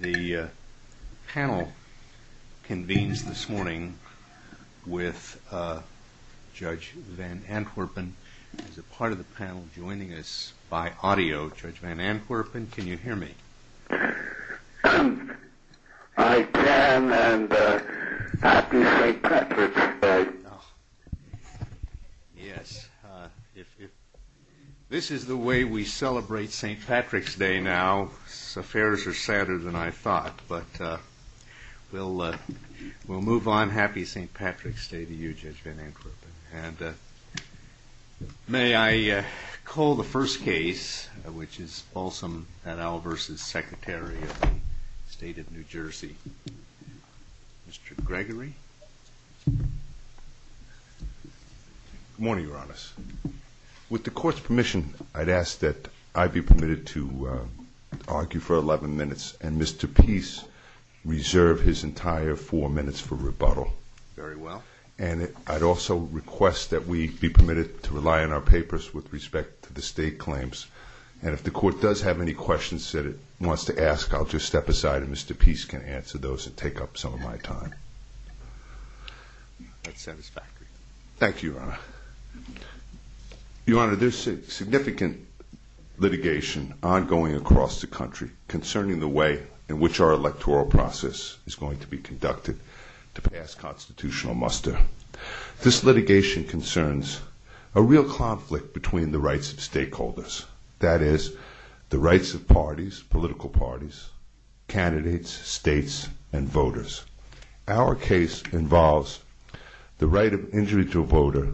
The panel convenes this morning with Judge Van Antwerpen as a part of the panel. Joining us by audio, Judge Van Antwerpen, can you hear me? I can, and happy St. Patrick's Day. Yes, this is the way we celebrate St. Patrick's Day now. Affairs are sadder than I thought, but we'll move on. Happy St. Patrick's Day to you, Judge Van Antwerpen. And may I call the first case, which is Balsam v. Secretary of State of New Jersey. Mr. Gregory. Good morning, Your Honors. With the Court's permission, I'd ask that I be permitted to argue for 11 minutes, and Mr. Peace reserve his entire four minutes for rebuttal. Very well. And I'd also request that we be permitted to rely on our papers with respect to the state claims. And if the Court does have any questions that it wants to ask, I'll just step aside and Mr. Peace can answer those and take up some of my time. That's satisfactory. Thank you, Your Honor. Your Honor, there's significant litigation ongoing across the country concerning the way in which our electoral process is going to be conducted to pass constitutional muster. This litigation concerns a real conflict between the rights of stakeholders, that is, the rights of parties, political parties, candidates, states, and voters. Our case involves the right of individual voter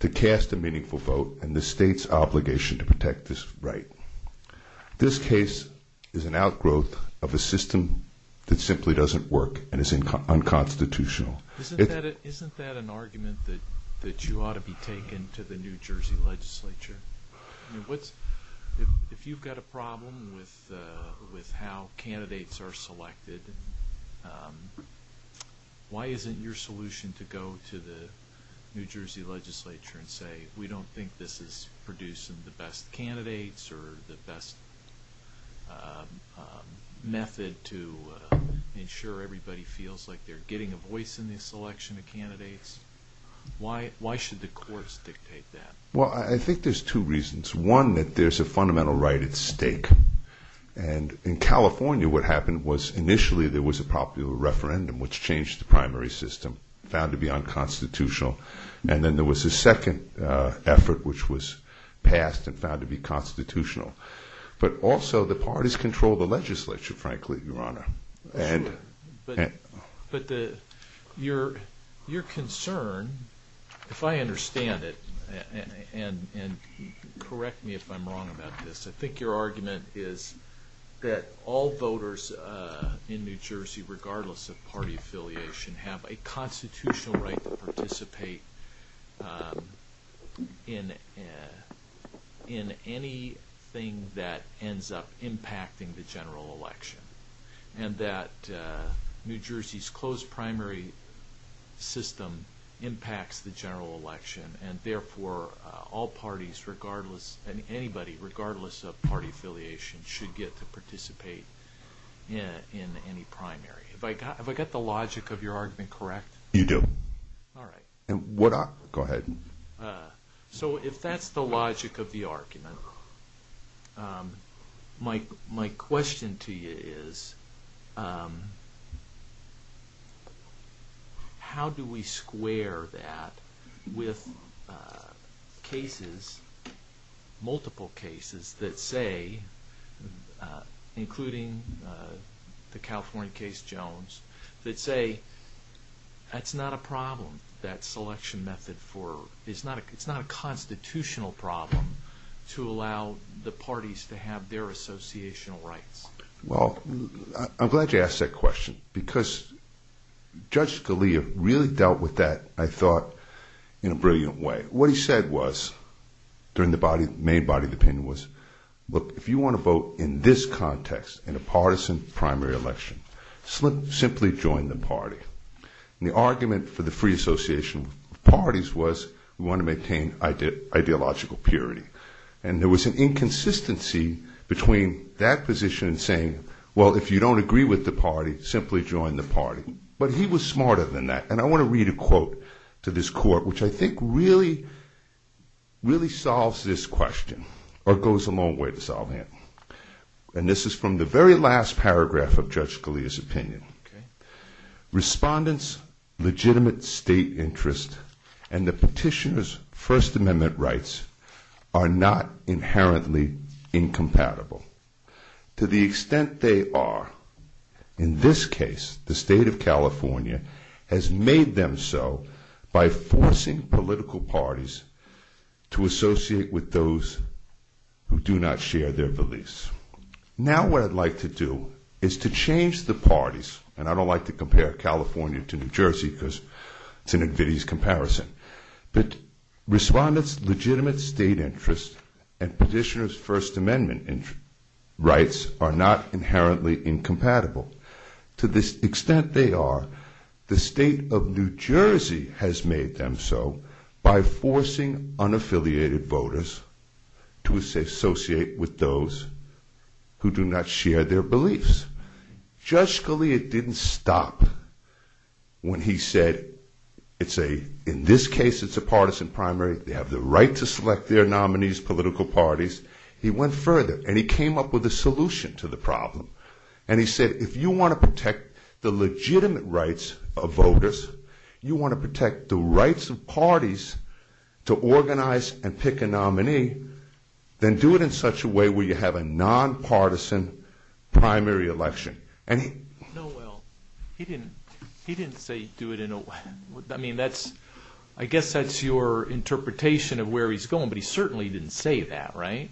to cast a meaningful vote and the state's obligation to protect this right. This case is an outgrowth of a system that simply doesn't work and is unconstitutional. Isn't that an argument that you ought to be taking to the New Jersey legislature? If you've got a problem with how candidates are selected, why isn't your solution to go to the New Jersey legislature and say, we don't think this is producing the best candidates or the best method to ensure everybody feels like they're getting a voice in the selection of candidates? Why should the courts dictate that? Well, I think there's two reasons. One, that there's a fundamental right at stake. And in California what happened was initially there was a popular referendum which changed the primary system, found to be unconstitutional. And then there was a second effort which was passed and found to be constitutional. But also the parties control the legislature, frankly, Your Honor. But your concern, if I understand it, and correct me if I'm wrong about this, I think your argument is that all voters in New Jersey, regardless of party affiliation, have a constitutional right to participate in anything that ends up impacting the general election. And that New Jersey's closed primary system impacts the general election, and therefore all parties regardless, anybody regardless of party affiliation, should get to participate in any primary. Have I got the logic of your argument correct? You do. All right. Go ahead. So if that's the logic of the argument, my question to you is how do we square that with cases, multiple cases that say, including the California case Jones, that say that's not a problem, that selection method for, it's not a constitutional problem to allow the parties to have their associational rights. Well, I'm glad you asked that question because Judge Scalia really dealt with that, I thought, in a brilliant way. What he said was, during the main body of the opinion was, look, if you want to vote in this context, in a partisan primary election, simply join the party. And the argument for the free association of parties was we want to maintain ideological purity. And there was an inconsistency between that position and saying, well, if you don't agree with the party, simply join the party. But he was smarter than that. And I want to read a quote to this court, which I think really, really solves this question, or goes a long way to solving it. And this is from the very last paragraph of Judge Scalia's opinion. Respondents' legitimate state interest and the petitioner's First Amendment rights are not inherently incompatible. To the extent they are, in this case, the state of California has made them so by forcing political parties to associate with those who do not share their beliefs. Now what I'd like to do is to change the parties, and I don't like to compare California to New Jersey because it's an invidious comparison. But respondents' legitimate state interest and petitioner's First Amendment rights are not inherently incompatible. To the extent they are, the state of New Jersey has made them so by forcing unaffiliated voters to associate with those who do not share their beliefs. Judge Scalia didn't stop when he said, in this case, it's a partisan primary. They have the right to select their nominees, political parties. He went further, and he came up with a solution to the problem. And he said, if you want to protect the legitimate rights of voters, you want to protect the rights of parties to organize and pick a nominee, then do it in such a way where you have a nonpartisan primary election. No, well, he didn't say do it in a way. I mean, I guess that's your interpretation of where he's going, but he certainly didn't say that, right?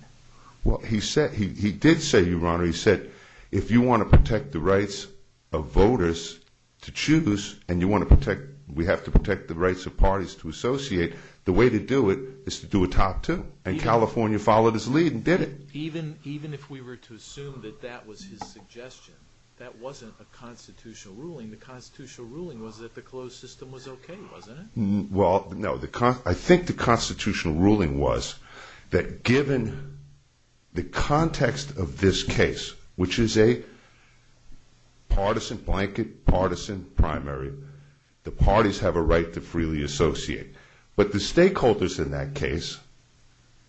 Well, he did say, Your Honor, he said, if you want to protect the rights of voters to choose and we have to protect the rights of parties to associate, the way to do it is to do a top two and California followed his lead and did it. Even if we were to assume that that was his suggestion, that wasn't a constitutional ruling. The constitutional ruling was that the closed system was okay, wasn't it? Well, no, I think the constitutional ruling was that given the context of this case, which is a partisan blanket, partisan primary, the parties have a right to freely associate. But the stakeholders in that case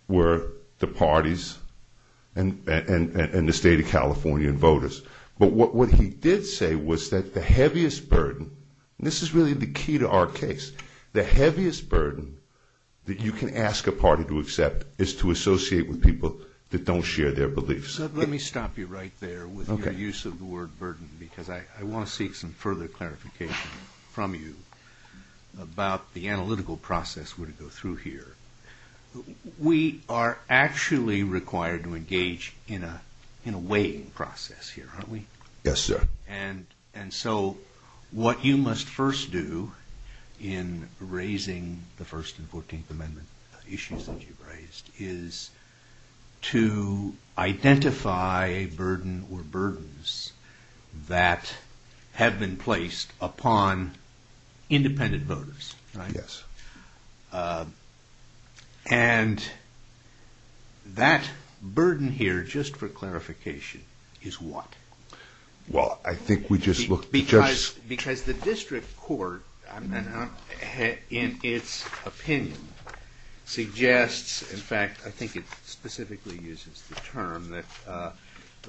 were the parties and the state of California and voters. But what he did say was that the heaviest burden, and this is really the key to our case, the heaviest burden that you can ask a party to accept is to associate with people that don't share their beliefs. Let me stop you right there with your use of the word burden, because I want to seek some further clarification from you about the analytical process we're going to go through here. We are actually required to engage in a weighting process here, aren't we? Yes, sir. And so what you must first do in raising the First and Fourteenth Amendment issues that you've raised is to identify a burden or burdens that have been placed upon independent voters, right? Yes. And that burden here, just for clarification, is what? Well, I think we just looked at just... In fact, I think it specifically uses the term that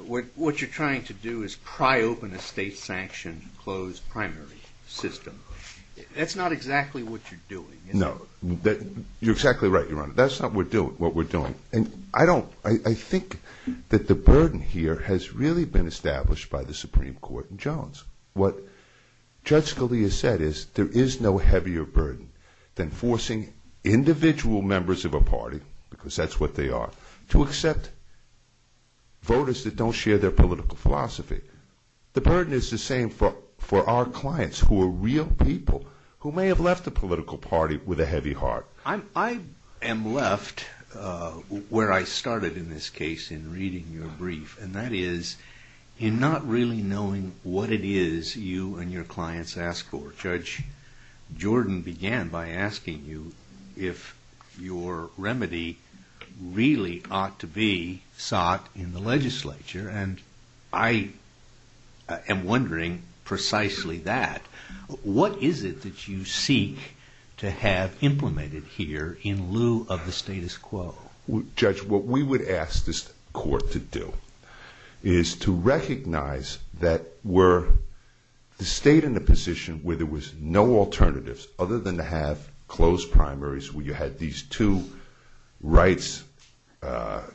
what you're trying to do is pry open a state-sanctioned closed primary system. That's not exactly what you're doing, is it? No. You're exactly right, Your Honor. That's not what we're doing. And I think that the burden here has really been established by the Supreme Court and Jones. What Judge Scalia said is there is no heavier burden than forcing individual members of a party, because that's what they are, to accept voters that don't share their political philosophy. The burden is the same for our clients who are real people who may have left the political party with a heavy heart. I am left where I started in this case in reading your brief, and that is in not really knowing what it is you and your clients ask for. Judge Jordan began by asking you if your remedy really ought to be sought in the legislature, and I am wondering precisely that. What is it that you seek to have implemented here in lieu of the status quo? Well, Judge, what we would ask this court to do is to recognize that we're the state in a position where there was no alternatives other than to have closed primaries where you had these two rights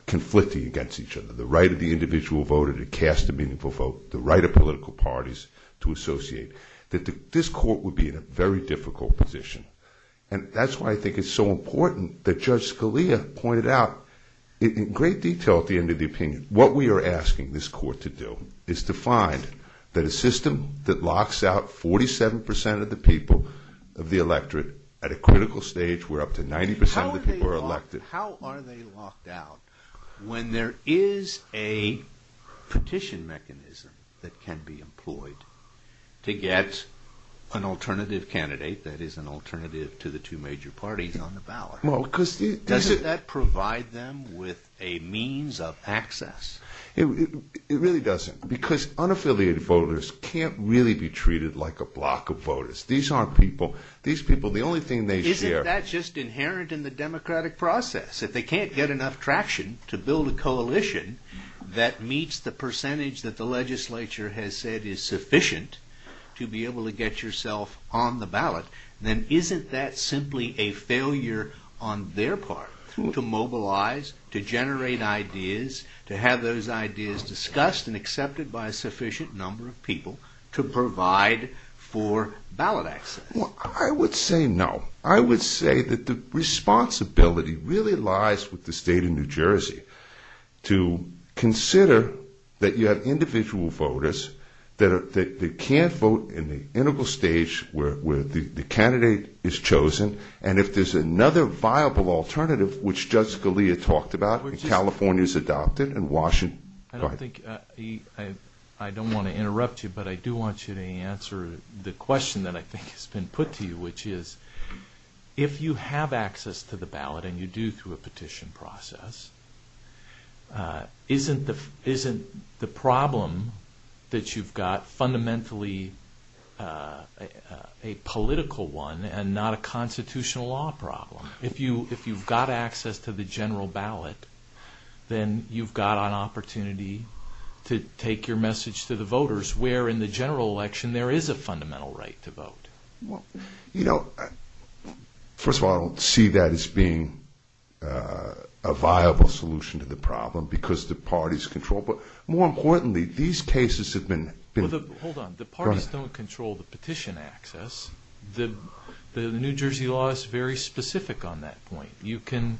conflicting against each other, the right of the individual voter to cast a meaningful vote, the right of political parties to associate. This court would be in a very difficult position, and that's why I think it's so important that Judge Scalia pointed out in great detail at the end of the opinion what we are asking this court to do is to find that a system that locks out 47 percent of the people of the electorate at a critical stage where up to 90 percent of the people are elected. How are they locked out when there is a petition mechanism that can be employed to get an alternative candidate, that is an alternative to the two major parties on the ballot? Doesn't that provide them with a means of access? It really doesn't, because unaffiliated voters can't really be treated like a block of voters. These people, the only thing they share... Isn't that just inherent in the democratic process? If they can't get enough traction to build a coalition that meets the percentage that the legislature has said is sufficient to be able to get yourself on the ballot, then isn't that simply a failure on their part to mobilize, to generate ideas, to have those ideas discussed and accepted by a sufficient number of people to provide for ballot access? I would say no. I would say that the responsibility really lies with the state of New Jersey to consider that you have individual voters that can't vote in the integral stage where the candidate is chosen, and if there's another viable alternative, which Judge Scalia talked about and California's adopted and Washington... I don't want to interrupt you, but I do want you to answer the question that I think has been put to you, which is, if you have access to the ballot and you do through a petition process, isn't the problem that you've got fundamentally a political one and not a constitutional law problem? If you've got access to the general ballot, then you've got an opportunity to take your message to the voters, where in the general election there is a fundamental right to vote. You know, first of all, I don't see that as being a viable solution to the problem because the parties control, but more importantly, these cases have been... Well, hold on. The parties don't control the petition access. The New Jersey law is very specific on that point. You can,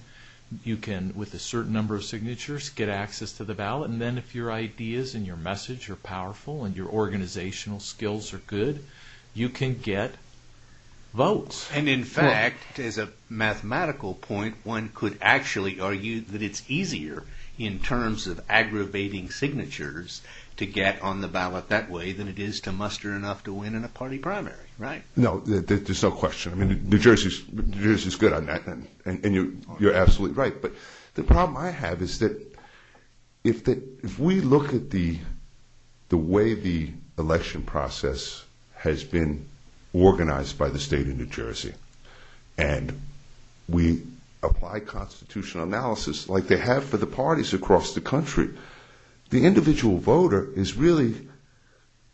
with a certain number of signatures, get access to the ballot, and then if your ideas and your message are powerful and your organizational skills are good, you can get votes. And in fact, as a mathematical point, one could actually argue that it's easier in terms of aggravating signatures to get on the ballot that way than it is to muster enough to win in a party primary, right? No, there's no question. I mean, New Jersey's good on that, and you're absolutely right. But the problem I have is that if we look at the way the election process has been organized by the state of New Jersey and we apply constitutional analysis like they have for the parties across the country, the individual voter is really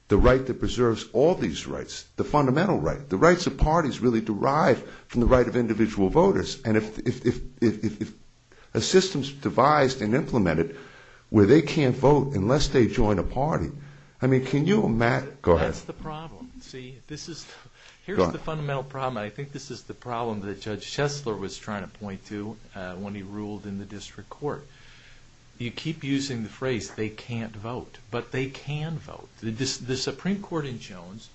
the right that preserves all these rights, the fundamental right. The rights of parties really derive from the right of individual voters, and if a system's devised and implemented where they can't vote unless they join a party, I mean, can you imagine? Go ahead. That's the problem. See, this is, here's the fundamental problem, and I think this is the problem that Judge Chesler was trying to point to when he ruled in the district court. You keep using the phrase, they can't vote, but they can vote. The Supreme Court in Jones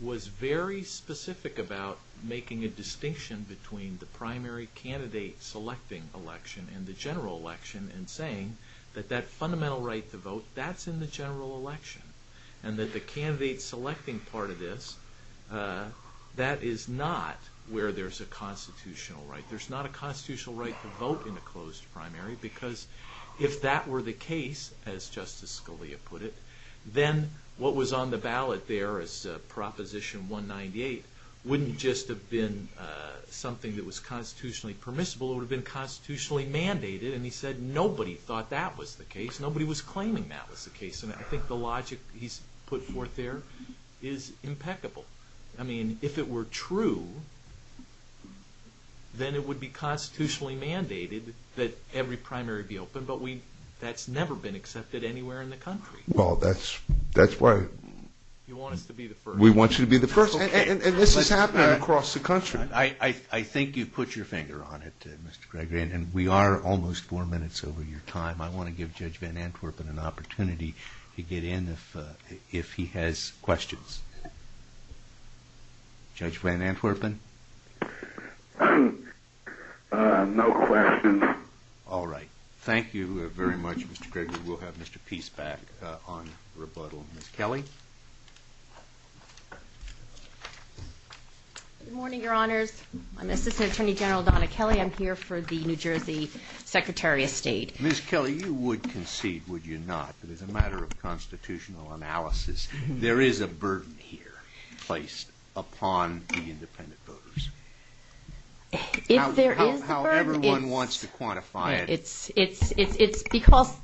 was very specific about making a distinction between the primary candidate-selecting election and the general election and saying that that fundamental right to vote, that's in the general election, and that the candidate-selecting part of this, that is not where there's a constitutional right. There's not a constitutional right to vote in a closed primary because if that were the case, as Justice Scalia put it, then what was on the ballot there as Proposition 198 wouldn't just have been something that was constitutionally permissible, it would have been constitutionally mandated, and he said nobody thought that was the case, nobody was claiming that was the case, and I think the logic he's put forth there is impeccable. I mean, if it were true, then it would be constitutionally mandated that every primary be open, but that's never been accepted anywhere in the country. Well, that's right. You want us to be the first. We want you to be the first, and this is happening across the country. I think you've put your finger on it, Mr. Gregory, and we are almost four minutes over your time. I want to give Judge Van Antwerpen an opportunity to get in if he has questions. Judge Van Antwerpen? No questions. All right. Thank you very much, Mr. Gregory. We'll have Mr. Peace back on rebuttal. Ms. Kelly? Good morning, Your Honors. I'm Assistant Attorney General Donna Kelly. I'm here for the New Jersey Secretary of State. Ms. Kelly, you would concede, would you not, that as a matter of constitutional analysis, there is a burden here placed upon the independent voters. If there is a burden, it's because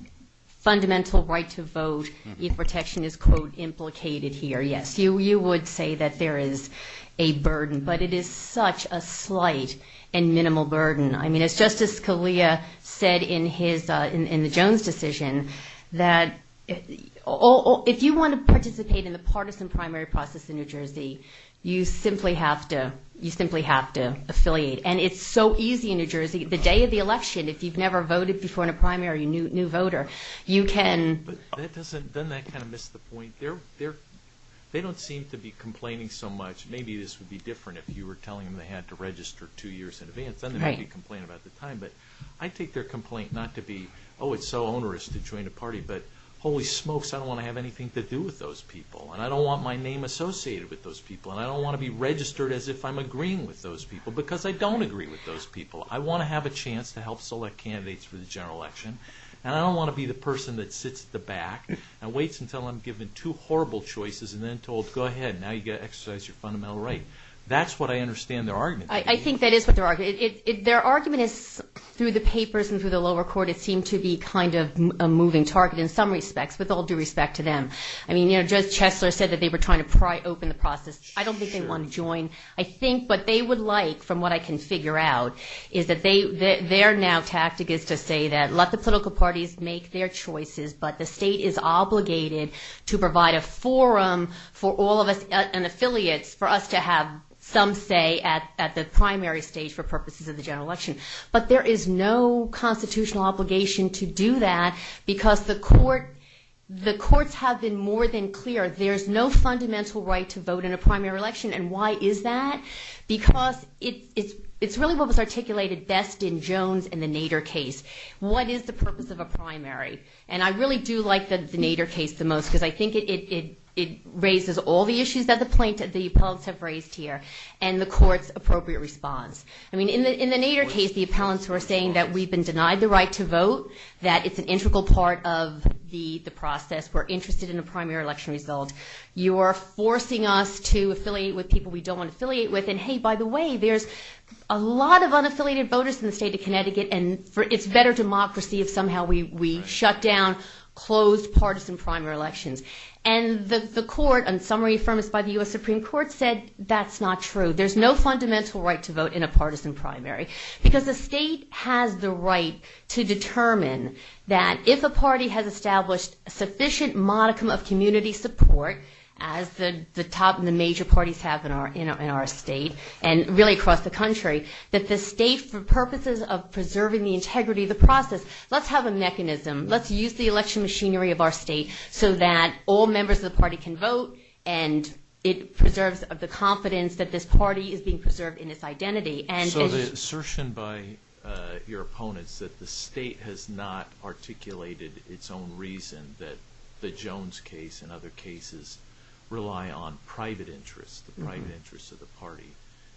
fundamental right to vote and protection is, quote, implicated here. Yes, you would say that there is a burden, but it is such a slight and minimal burden. I mean, as Justice Scalia said in the Jones decision, that if you want to participate in the partisan primary process in New Jersey, you simply have to affiliate. And it's so easy in New Jersey. The day of the election, if you've never voted before in a primary, a new voter, you can. But doesn't that kind of miss the point? They don't seem to be complaining so much. Maybe this would be different if you were telling them they had to register two years in advance. Then they might be complaining about the time. But I take their complaint not to be, oh, it's so onerous to join a party, but holy smokes, I don't want to have anything to do with those people. And I don't want my name associated with those people. And I don't want to be registered as if I'm agreeing with those people because I don't agree with those people. I want to have a chance to help select candidates for the general election. And I don't want to be the person that sits at the back and waits until I'm given two horrible choices and then told, go ahead, now you've got to exercise your fundamental right. That's what I understand their argument. I think that is what their argument is. Their argument is, through the papers and through the lower court, it seemed to be kind of a moving target in some respects, with all due respect to them. I mean, Judge Chesler said that they were trying to pry open the process. I don't think they want to join. I think what they would like, from what I can figure out, is that their now tactic is to say that let the political parties make their choices, but the state is obligated to provide a forum for all of us and affiliates for us to have some say at the primary stage for purposes of the general election. But there is no constitutional obligation to do that because the courts have been more than clear. There's no fundamental right to vote in a primary election. And why is that? Because it's really what was articulated best in Jones and the Nader case. What is the purpose of a primary? And I really do like the Nader case the most because I think it raises all the issues that the plaintiffs, the appellates have raised here and the court's appropriate response. I mean, in the Nader case, the appellants were saying that we've been denied the right to vote, that it's an integral part of the process. We're interested in a primary election result. You are forcing us to affiliate with people we don't want to affiliate with. And, hey, by the way, there's a lot of unaffiliated voters in the state of Connecticut, and it's better democracy if somehow we shut down closed partisan primary elections. And the court, on summary affirmance by the U.S. Supreme Court, said that's not true. There's no fundamental right to vote in a partisan primary because the state has the right to determine that if a party has established sufficient modicum of community support, as the top and the major parties have in our state and really across the country, that the state, for purposes of preserving the integrity of the process, let's have a mechanism. Let's use the election machinery of our state so that all members of the party can vote and it preserves the confidence that this party is being preserved in its identity. So the assertion by your opponents that the state has not articulated its own reason that the Jones case and other cases rely on private interests, the private interests of the party,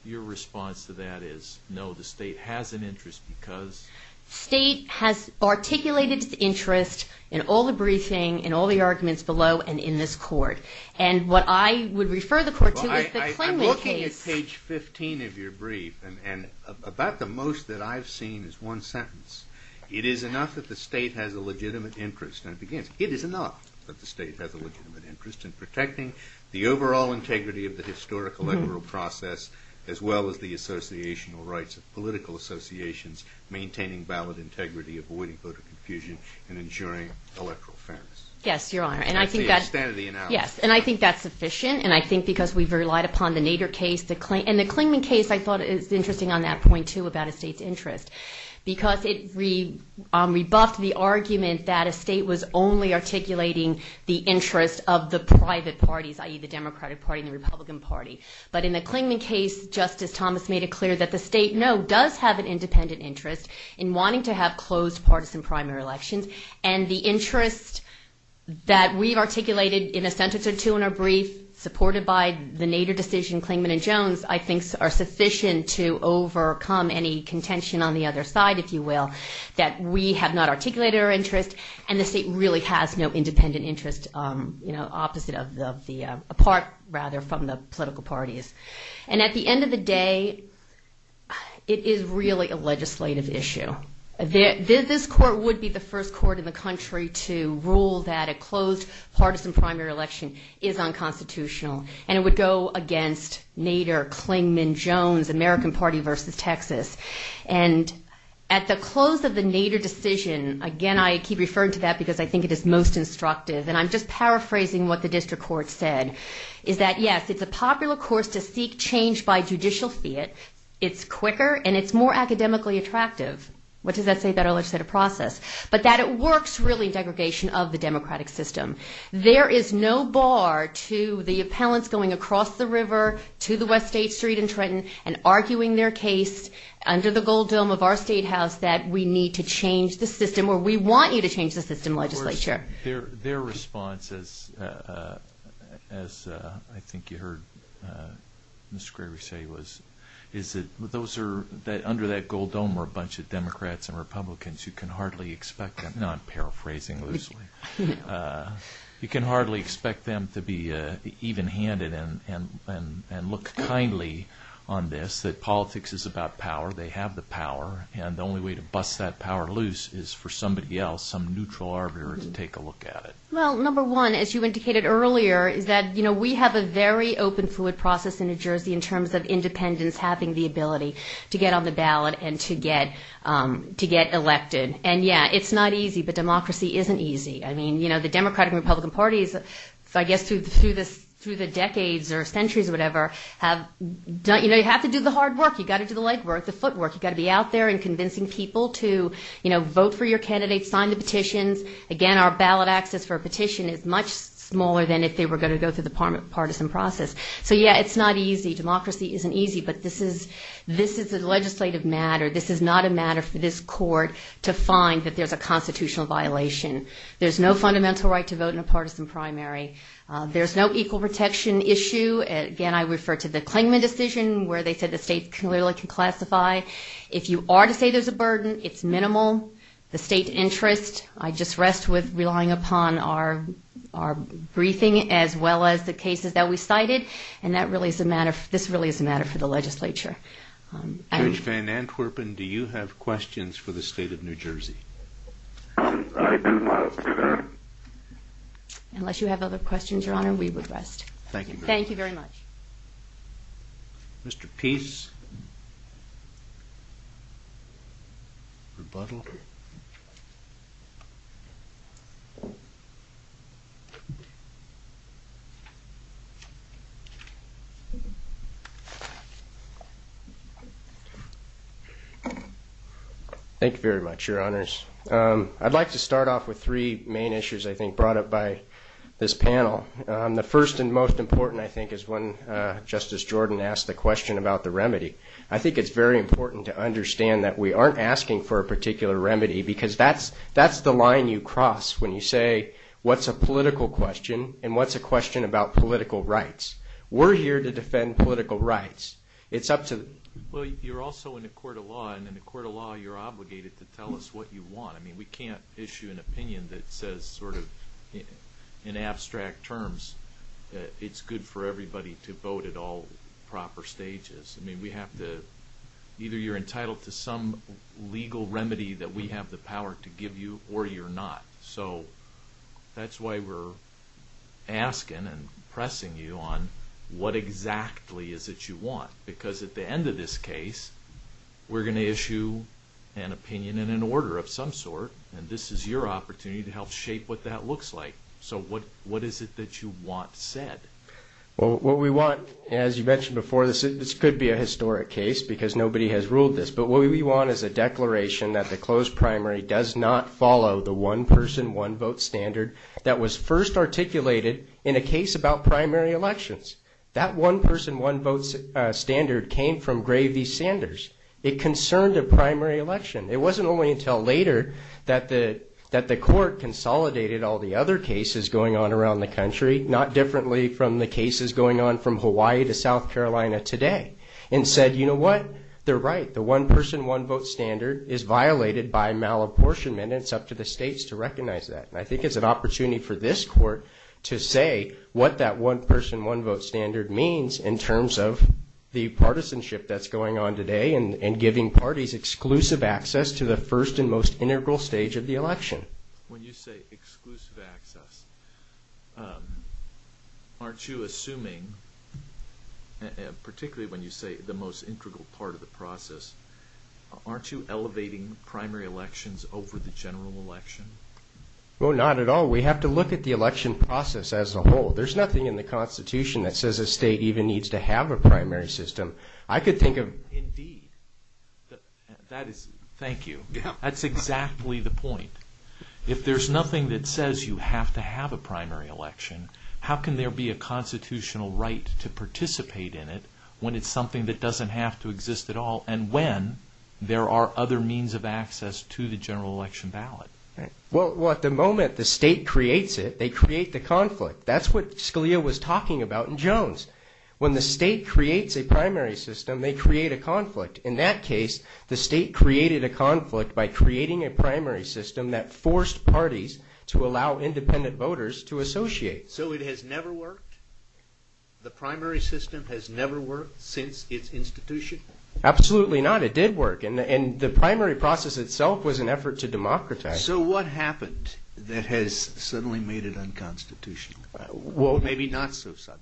your response to that is no, the state has an interest because? State has articulated its interest in all the briefing, in all the arguments below, and in this court. And what I would refer the court to is the Klingman case. I'm looking at page 15 of your brief and about the most that I've seen is one sentence. It is enough that the state has a legitimate interest, and it begins, it is enough that the state has a legitimate interest in protecting the overall integrity of the historic electoral process as well as the associational rights of political associations, maintaining ballot integrity, avoiding voter confusion, and ensuring electoral fairness. Yes, Your Honor, and I think that's sufficient, and I think because we've relied upon the Nader case, and the Klingman case I thought is interesting on that point too about a state's interest, because it rebuffed the argument that a state was only articulating the interest of the private parties, i.e. the Democratic Party and the Republican Party. But in the Klingman case, Justice Thomas made it clear that the state, no, does have an independent interest in wanting to have closed partisan primary elections, and the interest that we've articulated in a sentence or two in our brief, supported by the Nader decision, Klingman and Jones, I think are sufficient to overcome any contention on the other side, if you will, that we have not articulated our interest, and the state really has no independent interest, you know, opposite of the, apart rather from the political parties. And at the end of the day, it is really a legislative issue. This court would be the first court in the country to rule that a closed partisan primary election is unconstitutional, and it would go against Nader, Klingman, Jones, American Party versus Texas. And at the close of the Nader decision, again, I keep referring to that because I think it is most instructive, and I'm just paraphrasing what the district court said, is that, yes, it's a popular course to seek change by judicial fiat. It's quicker, and it's more academically attractive. What does that say about our legislative process? But that it works really in degradation of the democratic system. There is no bar to the appellants going across the river to the West State Street in Trenton and arguing their case under the gold dome of our statehouse that we need to change the system, or we want you to change the system, legislature. Their response, as I think you heard Mr. Graber say, is that under that gold dome are a bunch of Democrats and Republicans. You can hardly expect them to be even-handed and look kindly on this, that politics is about power. They have the power, and the only way to bust that power loose is for somebody else, some neutral arbiter, to take a look at it. Well, number one, as you indicated earlier, is that we have a very open, fluid process in New Jersey in terms of independents having the ability to get on the ballot and to get elected. And, yeah, it's not easy, but democracy isn't easy. I mean, you know, the Democratic and Republican parties, I guess through the decades or centuries or whatever, have done, you know, you have to do the hard work. You've got to do the legwork, the footwork. You've got to be out there and convincing people to, you know, vote for your candidates, sign the petitions. Again, our ballot access for a petition is much smaller than if they were going to go through the partisan process. So, yeah, it's not easy. Democracy isn't easy, but this is a legislative matter. This is not a matter for this court to find that there's a constitutional violation. There's no fundamental right to vote in a partisan primary. There's no equal protection issue. Again, I refer to the Klingman decision where they said the state clearly can classify. If you are to say there's a burden, it's minimal. The state interest, I just rest with relying upon our briefing as well as the cases that we cited, and this really is a matter for the legislature. Judge Van Antwerpen, do you have questions for the state of New Jersey? I do not, Your Honor. Unless you have other questions, Your Honor, we would rest. Thank you very much. Thank you very much. Mr. Pease, rebuttal. Thank you very much, Your Honors. I'd like to start off with three main issues, I think, brought up by this panel. The first and most important, I think, is when Justice Jordan asked the question about the remedy. I think it's very important to understand that we aren't asking for a particular remedy because that's the line you cross when you say what's a political question and what's a question about political rights. We're here to defend political rights. It's up to the court. Well, you're also in a court of law, and in a court of law, you're obligated to tell us what you want. I mean, we can't issue an opinion that says sort of in abstract terms that it's good for everybody to vote at all proper stages. I mean, we have to – either you're entitled to some legal remedy that we have the power to give you or you're not. So that's why we're asking and pressing you on what exactly is it you want because at the end of this case, we're going to issue an opinion in an order of some sort, and this is your opportunity to help shape what that looks like. So what is it that you want said? Well, what we want, as you mentioned before, this could be a historic case because nobody has ruled this, but what we want is a declaration that the closed primary does not follow the one-person, one-vote standard that was first articulated in a case about primary elections. That one-person, one-vote standard came from Gravey Sanders. It concerned a primary election. It wasn't only until later that the court consolidated all the other cases going on around the country, not differently from the cases going on from Hawaii to South Carolina today, and said, you know what? They're right. The one-person, one-vote standard is violated by malapportionment, and it's up to the states to recognize that. I think it's an opportunity for this court to say what that one-person, one-vote standard means in terms of the partisanship that's going on today and giving parties exclusive access to the first and most integral stage of the election. When you say exclusive access, aren't you assuming, particularly when you say the most integral part of the process, aren't you elevating primary elections over the general election? Well, not at all. We have to look at the election process as a whole. There's nothing in the Constitution that says a state even needs to have a primary system. I could think of... Indeed. Thank you. That's exactly the point. If there's nothing that says you have to have a primary election, how can there be a constitutional right to participate in it when it's something that doesn't have to exist at all and when there are other means of access to the general election ballot? Well, at the moment, the state creates it. They create the conflict. That's what Scalia was talking about in Jones. When the state creates a primary system, they create a conflict. In that case, the state created a conflict by creating a primary system that forced parties to allow independent voters to associate. So it has never worked? The primary system has never worked since its institution? Absolutely not. It did work, and the primary process itself was an effort to democratize. So what happened that has suddenly made it unconstitutional or maybe not so subtle?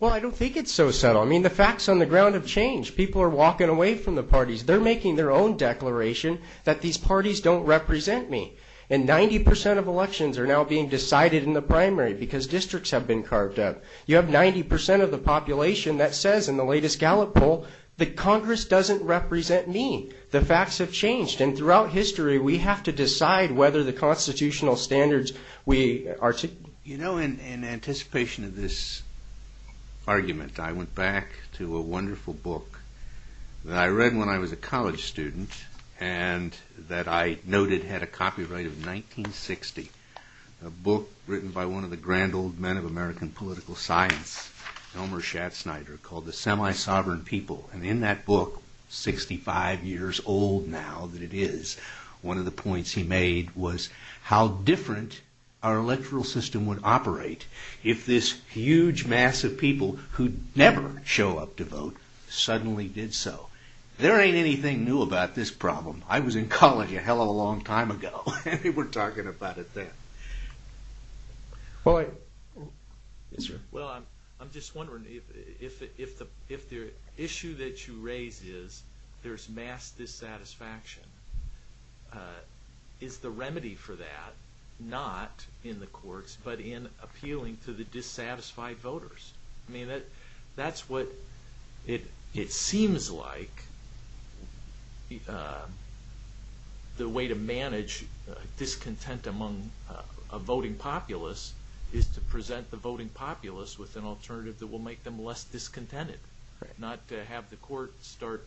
Well, I don't think it's so subtle. I mean, the facts on the ground have changed. People are walking away from the parties. They're making their own declaration that these parties don't represent me, and 90 percent of elections are now being decided in the primary because districts have been carved up. You have 90 percent of the population that says in the latest Gallup poll that Congress doesn't represent me. The facts have changed, and throughout history, we have to decide whether the constitutional standards we articulate. You know, in anticipation of this argument, I went back to a wonderful book that I read when I was a college student and that I noted had a copyright of 1960, a book written by one of the grand old men of American political science, Elmer Schatznyder, called The Semi-Sovereign People, and in that book, 65 years old now that it is, one of the points he made was how different our electoral system would operate if this huge mass of people who never show up to vote suddenly did so. There ain't anything new about this problem. I was in college a hell of a long time ago, and we're talking about it then. Boy. Yes, sir. Well, I'm just wondering if the issue that you raise is there's mass dissatisfaction, is the remedy for that not in the courts but in appealing to the dissatisfied voters? I mean, that's what it seems like the way to manage discontent among a voting populace is to present the voting populace with an alternative that will make them less discontented, not to have the court start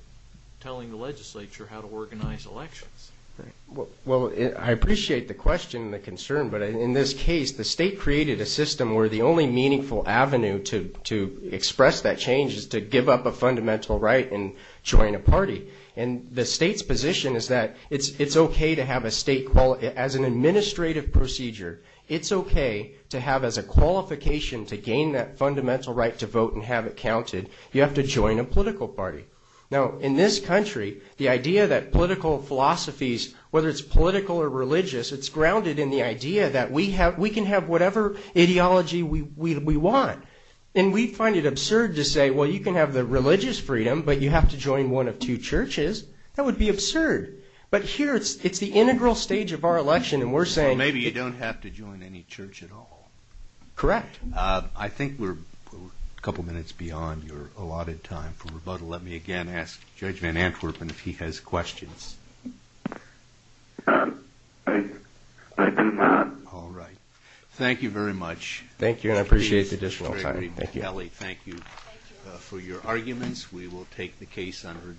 telling the legislature how to organize elections. Well, I appreciate the question and the concern, but in this case, the state created a system where the only meaningful avenue to express that change is to give up a fundamental right and join a party. And the state's position is that it's okay to have a state, as an administrative procedure, it's okay to have as a qualification to gain that fundamental right to vote and have it counted. You have to join a political party. Now, in this country, the idea that political philosophies, whether it's political or religious, it's grounded in the idea that we can have whatever ideology we want. And we find it absurd to say, well, you can have the religious freedom, but you have to join one of two churches. That would be absurd. But here, it's the integral stage of our election, and we're saying- So maybe you don't have to join any church at all. Correct. I think we're a couple minutes beyond your allotted time for rebuttal. Let me again ask Judge Van Antwerpen if he has questions. I do not. All right. Thank you very much. Thank you, and I appreciate the additional time. Thank you. Kelly, thank you for your arguments. We will take the case under advisement.